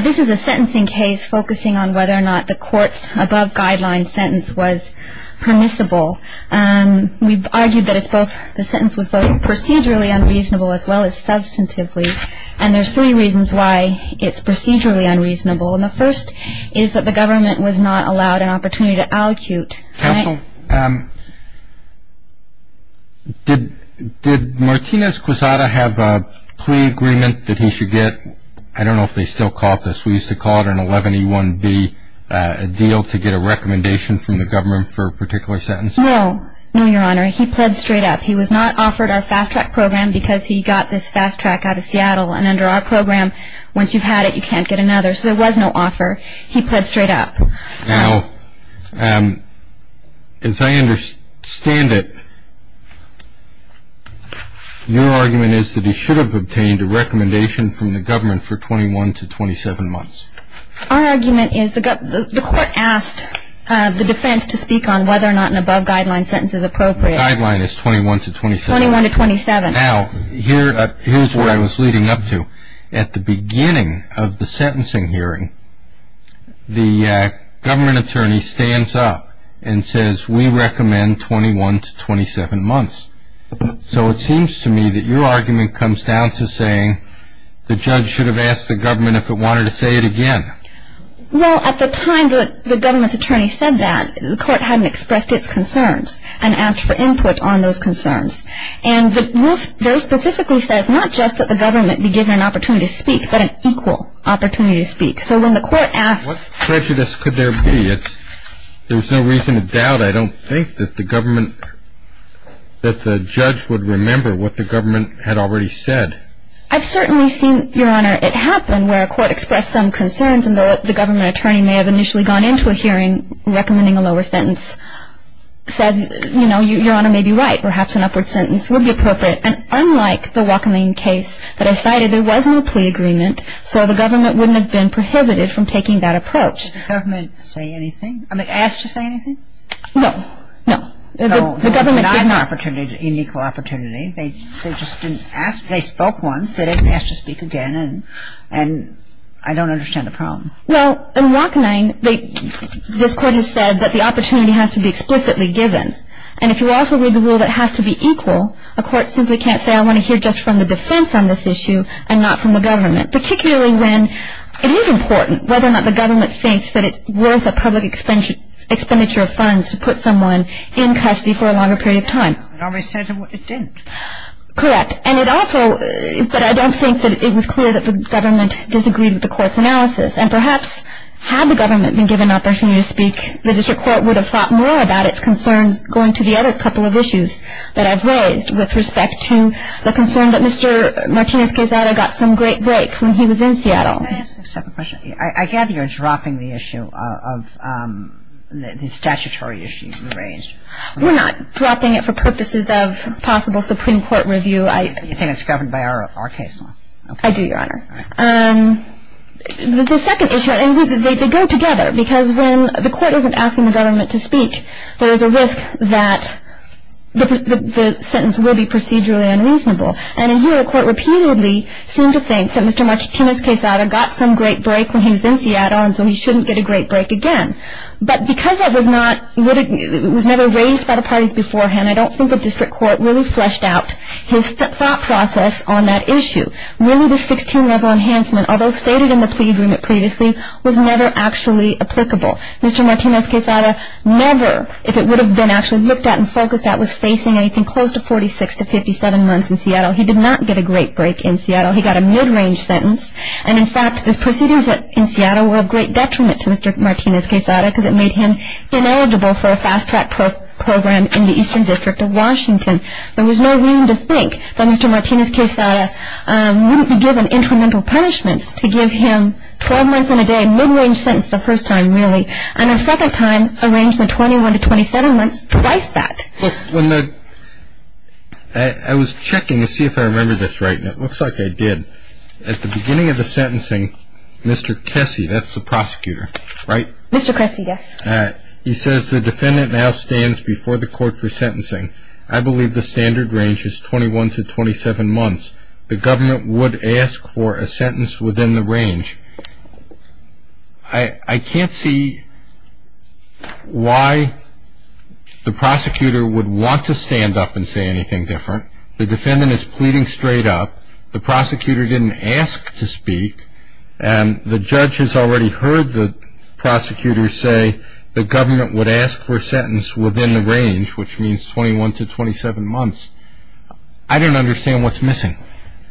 This is a sentencing case focusing on whether or not the court's above-guideline sentence was permissible. We've argued that the sentence was both procedurally unreasonable as well as substantively, and there's three reasons why it's procedurally unreasonable. And the first is that the government was not allowed an opportunity to allecute. Counsel, did Martinez-Quezada have a plea agreement that he should get? I don't know if they still call it this. We used to call it an 11E1B deal to get a recommendation from the government for a particular sentence. No, no, Your Honor. He pled straight up. He was not offered our fast track program because he got this fast track out of Seattle, and under our program, once you've had it, you can't get another. So there was no offer. He pled straight up. Now, as I understand it, your argument is that he should have obtained a recommendation from the government for 21 to 27 months. Our argument is the court asked the defense to speak on whether or not an above-guideline sentence is appropriate. The guideline is 21 to 27. 21 to 27. Now, here's what I was leading up to. At the beginning of the sentencing hearing, the government attorney stands up and says, we recommend 21 to 27 months. So it seems to me that your argument comes down to saying the judge should have asked the government if it wanted to say it again. Well, at the time the government's attorney said that, the court hadn't expressed its concerns and asked for input on those concerns. And the rules very specifically says not just that the government be given an opportunity to speak, but an equal opportunity to speak. So when the court asks ---- What prejudice could there be? There's no reason to doubt, I don't think, that the government ---- that the judge would remember what the government had already said. I've certainly seen, Your Honor, it happen where a court expressed some concerns and the government attorney may have initially gone into a hearing recommending a lower sentence. Said, you know, Your Honor may be right, perhaps an upward sentence would be appropriate. And unlike the Wachenine case that I cited, there was no plea agreement, so the government wouldn't have been prohibited from taking that approach. Did the government say anything? I mean, ask to say anything? No. No. The government didn't ---- No, not an opportunity, an unequal opportunity. They just didn't ask. They spoke once. They didn't ask to speak again. And I don't understand the problem. Well, in Wachenine, this court has said that the opportunity has to be explicitly given. And if you also read the rule that it has to be equal, a court simply can't say I want to hear just from the defense on this issue and not from the government, particularly when it is important whether or not the government thinks that it's worth a public expenditure of funds to put someone in custody for a longer period of time. It always says it didn't. Correct. And it also ---- But I don't think that it was clear that the government disagreed with the court's analysis. And perhaps had the government been given an opportunity to speak, the district court would have thought more about its concerns going to the other couple of issues that I've raised with respect to the concern that Mr. Martinez-Quezada got some great break when he was in Seattle. Can I ask a separate question? I gather you're dropping the issue of the statutory issue you raised. We're not dropping it for purposes of possible Supreme Court review. You think it's governed by our case law. I do, Your Honor. All right. The second issue ---- And they go together because when the court isn't asking the government to speak, there is a risk that the sentence will be procedurally unreasonable. And in here the court repeatedly seemed to think that Mr. Martinez-Quezada got some great break when he was in Seattle and so he shouldn't get a great break again. But because it was not ---- it was never raised by the parties beforehand, I don't think the district court really fleshed out his thought process on that issue. Really the 16-level enhancement, although stated in the plea agreement previously, was never actually applicable. Mr. Martinez-Quezada never, if it would have been actually looked at and focused at, was facing anything close to 46 to 57 months in Seattle. He did not get a great break in Seattle. He got a mid-range sentence. And, in fact, the proceedings in Seattle were of great detriment to Mr. Martinez-Quezada because it made him ineligible for a fast-track program in the Eastern District of Washington. There was no reason to think that Mr. Martinez-Quezada wouldn't be given incremental punishments to give him 12 months and a day mid-range sentence the first time really and a second time arrangement 21 to 27 months, twice that. Well, when the ---- I was checking to see if I remember this right, and it looks like I did. At the beginning of the sentencing, Mr. Kessy, that's the prosecutor, right? Mr. Kessy, yes. He says the defendant now stands before the court for sentencing. I believe the standard range is 21 to 27 months. The government would ask for a sentence within the range. I can't see why the prosecutor would want to stand up and say anything different. The defendant is pleading straight up. The prosecutor didn't ask to speak, and the judge has already heard the prosecutor say the government would ask for a sentence within the range, which means 21 to 27 months. I don't understand what's missing.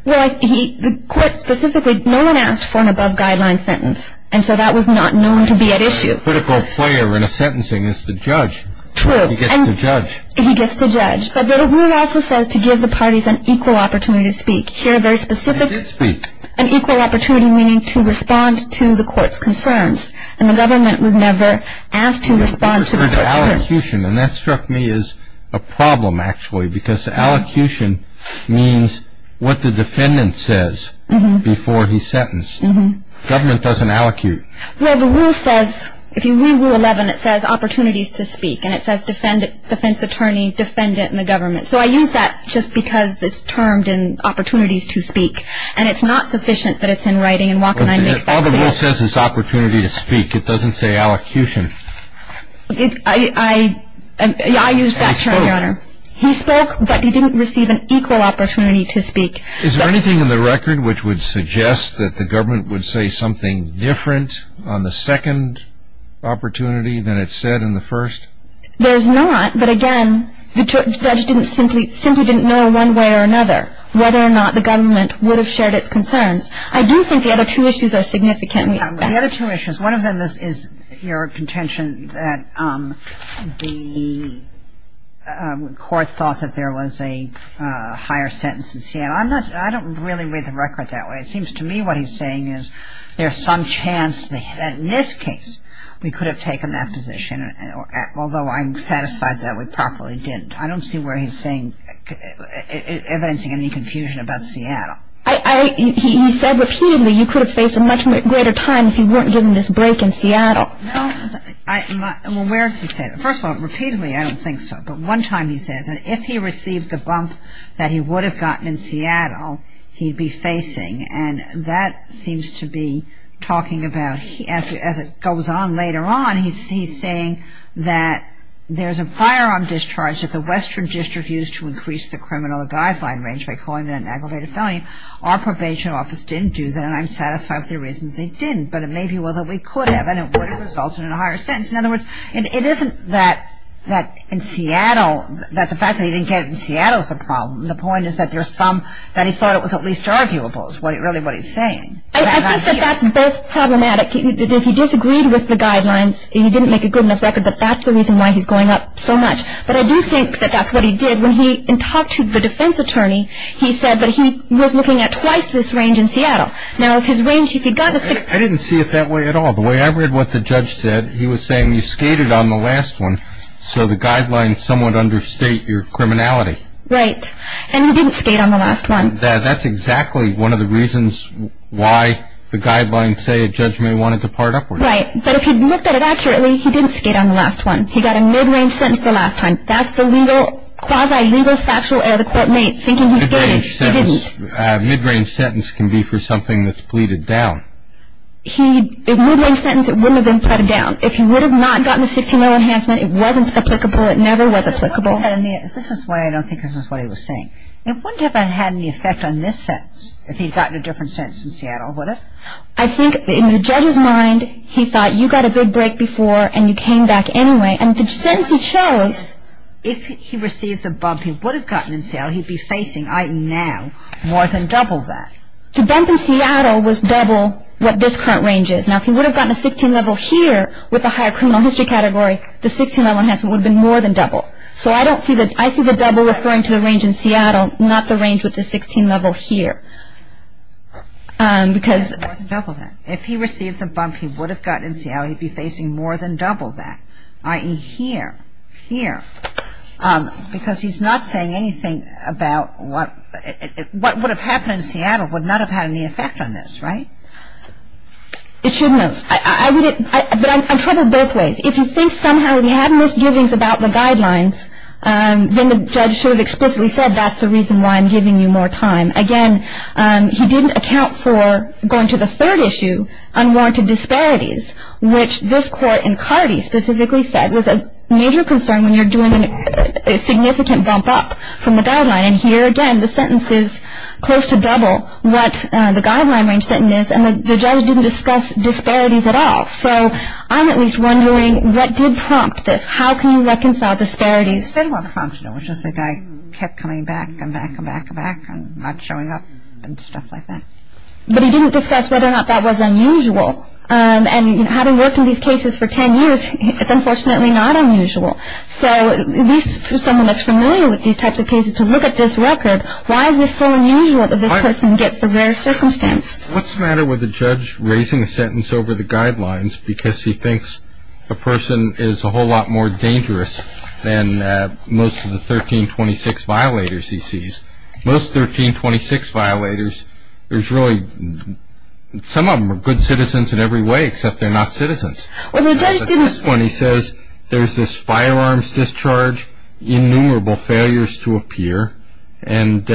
Well, the court specifically, no one asked for an above-guideline sentence, and so that was not known to be at issue. A critical player in a sentencing is the judge. True. He gets to judge. He gets to judge. But the rule also says to give the parties an equal opportunity to speak. Here, very specifically, an equal opportunity meaning to respond to the court's concerns, and the government was never asked to respond to the court's concerns. Allocution, and that struck me as a problem, actually, because allocution means what the defendant says before he's sentenced. Government doesn't allocute. Well, the rule says, if you read Rule 11, it says opportunities to speak, and it says defense attorney, defendant, and the government. So I use that just because it's termed in opportunities to speak, and it's not sufficient that it's in writing, and Walkenheim makes that clear. All the rule says is opportunity to speak. It doesn't say allocution. I used that term, Your Honor. He spoke. He spoke, but he didn't receive an equal opportunity to speak. Is there anything in the record which would suggest that the government would say something different on the second opportunity than it said in the first? There's not, but, again, the judge simply didn't know one way or another whether or not the government would have shared its concerns. I do think the other two issues are significant. The other two issues, one of them is your contention that the court thought that there was a higher sentence in Seattle. I don't really read the record that way. It seems to me what he's saying is there's some chance that in this case we could have taken that position, although I'm satisfied that we properly didn't. I don't see where he's saying, evidencing any confusion about Seattle. He said repeatedly you could have faced a much greater time if you weren't given this break in Seattle. Well, I'm aware he said that. First of all, repeatedly, I don't think so. But one time he says that if he received the bump that he would have gotten in Seattle, he'd be facing. And that seems to be talking about, as it goes on later on, he's saying that there's a firearm discharge that the Western District used to increase the criminal guideline range by calling it an aggravated felony. Our probation office didn't do that, and I'm satisfied with the reasons they didn't. But it may be that we could have, and it would have resulted in a higher sentence. In other words, it isn't that in Seattle, that the fact that he didn't get it in Seattle is the problem. The point is that there's some that he thought it was at least arguable is really what he's saying. I think that that's both problematic. If he disagreed with the guidelines and he didn't make a good enough record, that's the reason why he's going up so much. But I do think that that's what he did. When he talked to the defense attorney, he said that he was looking at twice this range in Seattle. Now, if his range, if he got the six... I didn't see it that way at all. The way I read what the judge said, he was saying you skated on the last one, so the guidelines somewhat understate your criminality. Right. And he didn't skate on the last one. That's exactly one of the reasons why the guidelines say a judge may want to depart upward. Right. But if he'd looked at it accurately, he didn't skate on the last one. He got a mid-range sentence the last time. That's the legal, quasi-legal factual error the court made, thinking he skated. Mid-range sentence can be for something that's pleaded down. If mid-range sentence, it wouldn't have been pleaded down. If he would have not gotten the 16-0 enhancement, it wasn't applicable. It never was applicable. This is why I don't think this is what he was saying. It wouldn't have had any effect on this sentence if he'd gotten a different sentence in Seattle, would it? I think in the judge's mind, he thought you got a big break before and you came back anyway. And the sentence he chose. If he receives a bump he would have gotten in Seattle, he'd be facing, i.e., now, more than double that. The bump in Seattle was double what this current range is. Now, if he would have gotten a 16-level here with a higher criminal history category, the 16-level enhancement would have been more than double. So I see the double referring to the range in Seattle, not the range with the 16-level here. More than double that. And I think the judge should have said, I'm giving you more time, i.e., here, here. Because he's not saying anything about what would have happened in Seattle would not have had any effect on this, right? It shouldn't have. I would have ‑‑ but I'm troubled both ways. If you think somehow he had misgivings about the guidelines, then the judge should have explicitly said, that's the reason why I'm giving you more time. Again, he didn't account for, going to the third issue, unwarranted disparities, which this court in Cardi specifically said was a major concern when you're doing a significant bump up from the guideline. And here, again, the sentence is close to double what the guideline range sentence is, and the judge didn't discuss disparities at all. So I'm at least wondering what did prompt this? How can you reconcile disparities? It was just the guy kept coming back and back and back and back and not showing up and stuff like that. But he didn't discuss whether or not that was unusual. And having worked in these cases for ten years, it's unfortunately not unusual. So at least for someone that's familiar with these types of cases to look at this record, why is this so unusual that this person gets the rare circumstance? What's the matter with the judge raising a sentence over the guidelines because he thinks a person is a whole lot more dangerous than most of the 1326 violators he sees? Most 1326 violators, there's really, some of them are good citizens in every way except they're not citizens. Well, the judge didn't. When he says there's this firearms discharge, innumerable failures to appear, and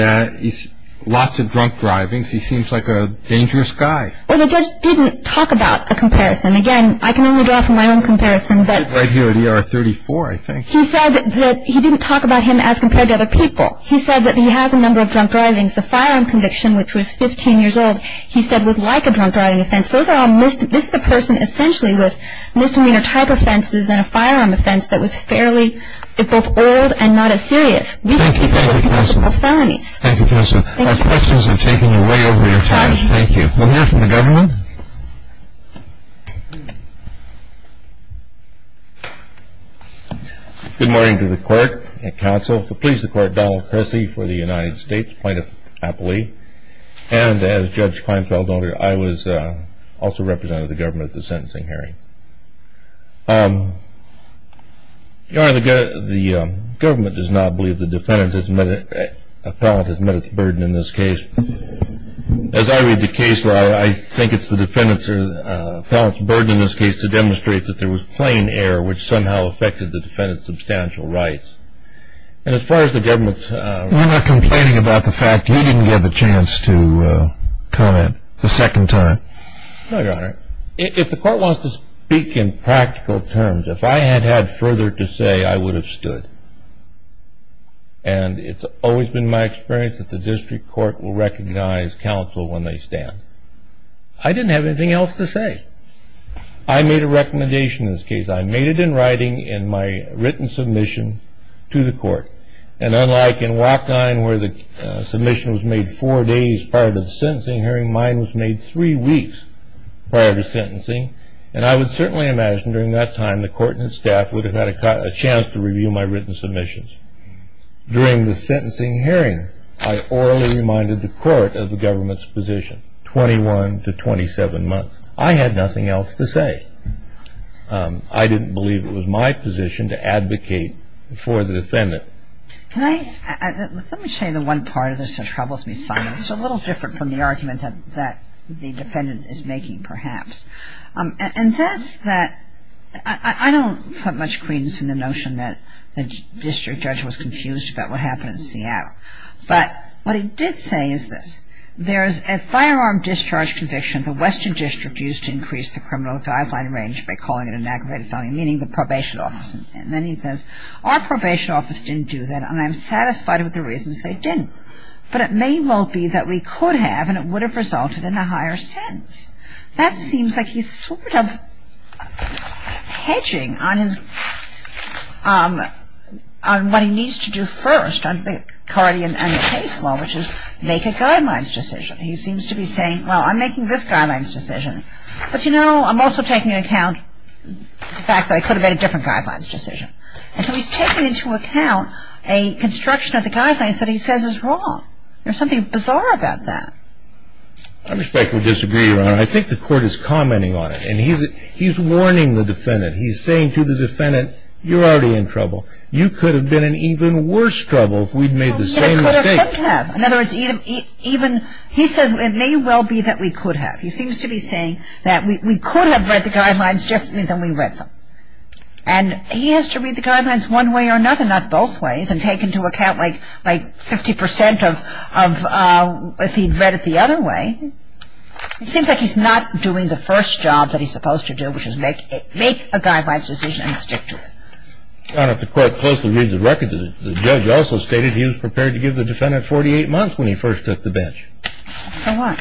lots of drunk drivings, he seems like a dangerous guy. Well, the judge didn't talk about a comparison. Again, I can only draw from my own comparison. I do, at ER 34, I think. He said that he didn't talk about him as compared to other people. He said that he has a number of drunk drivings. The firearm conviction, which was 15 years old, he said was like a drunk driving offense. This is a person essentially with misdemeanor type offenses and a firearm offense that was fairly both old and not as serious. Thank you. Thank you, Counselor. We can't keep talking about felonies. Thank you, Counselor. Thank you. Our questions have taken you way over your time. Thank you. We'll hear from the government. Good morning to the court and counsel. Please support Donald Cressy for the United States Plaintiff Appellee. And as Judge Kleinfeld noted, I also represented the government at the sentencing hearing. The government does not believe the defendant has met its burden in this case. As I read the case law, I think it's the defendant's or felon's burden in this case to demonstrate that there was plain error, which somehow affected the defendant's substantial rights. And as far as the government's… You're not complaining about the fact you didn't get a chance to comment the second time? No, Your Honor. If the court wants to speak in practical terms, if I had had further to say, I would have stood. And it's always been my experience that the district court will recognize counsel when they stand. I didn't have anything else to say. I made a recommendation in this case. I made it in writing in my written submission to the court. And unlike in WAC 9 where the submission was made four days prior to the sentencing hearing, mine was made three weeks prior to sentencing. And I would certainly imagine during that time the court and its staff would have had a chance to review my written submissions. During the sentencing hearing, I orally reminded the court of the government's position, 21 to 27 months. I had nothing else to say. I didn't believe it was my position to advocate for the defendant. Can I… Let me show you the one part of this that troubles me, Simon. It's a little different from the argument that the defendant is making perhaps. And that's that I don't put much credence in the notion that the district judge was confused about what happened in Seattle. But what he did say is this. There's a firearm discharge conviction the Western District used to increase the criminal guideline range by calling it an aggravated felony, meaning the probation office. And then he says, our probation office didn't do that and I'm satisfied with the reasons they didn't. But it may well be that we could have and it would have resulted in a higher sentence. That seems like he's sort of hedging on his… on what he needs to do first under the Cardi and Case Law, which is make a guidelines decision. He seems to be saying, well, I'm making this guidelines decision. But, you know, I'm also taking into account the fact that I could have made a different guidelines decision. And so he's taking into account a construction of the guidelines that he says is wrong. There's something bizarre about that. I respectfully disagree, Your Honor. I think the court is commenting on it. And he's warning the defendant. He's saying to the defendant, you're already in trouble. You could have been in even worse trouble if we'd made the same mistake. In other words, even he says it may well be that we could have. He seems to be saying that we could have read the guidelines differently than we read them. And he has to read the guidelines one way or another, not both ways, and take into account like 50 percent of if he'd read it the other way. It seems like he's not doing the first job that he's supposed to do, which is make a guidelines decision and stick to it. Your Honor, the court closely reads the record. The judge also stated he was prepared to give the defendant 48 months when he first took the bench. So what?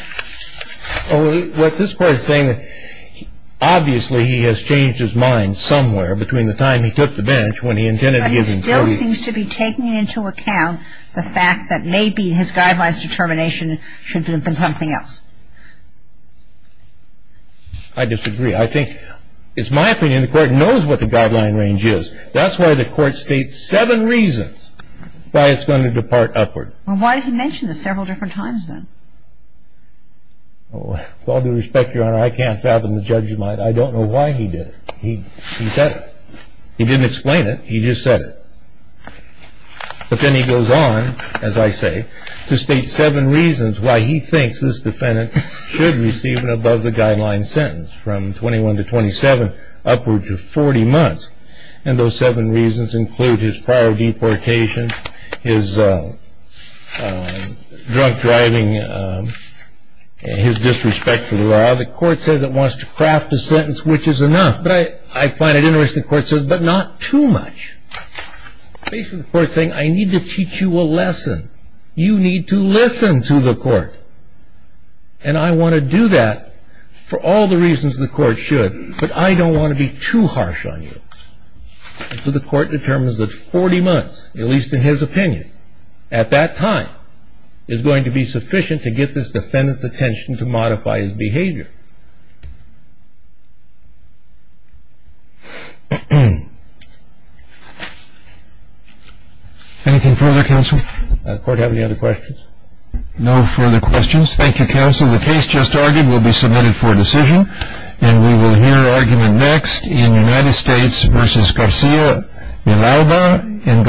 What this court is saying is obviously he has changed his mind somewhere between the time he took the bench when he intended to give him 48 months. But he still seems to be taking into account the fact that maybe his guidelines determination should have been something else. I disagree. I think it's my opinion the court knows what the guideline range is. That's why the court states seven reasons why it's going to depart upward. Well, why did he mention this several different times, then? With all due respect, Your Honor, I can't fathom the judge's mind. I don't know why he did it. He said it. He didn't explain it. He just said it. But then he goes on, as I say, to state seven reasons why he thinks this defendant should receive an above-the-guideline sentence from 21 to 27, upward to 40 months. And those seven reasons include his prior deportation, his drunk driving, his disrespect for the law. The court says it wants to craft a sentence which is enough. But I find it interesting the court says, but not too much. Basically, the court is saying, I need to teach you a lesson. You need to listen to the court. And I want to do that for all the reasons the court should. But I don't want to be too harsh on you. So the court determines that 40 months, at least in his opinion, at that time, is going to be sufficient to get this defendant's attention to modify his behavior. Anything further, counsel? Does the court have any other questions? No further questions. Thank you, counsel. The case just argued will be submitted for decision. And we will hear argument next in United States v. Garcia Villalba and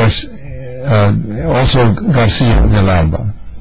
also Garcia Villalba.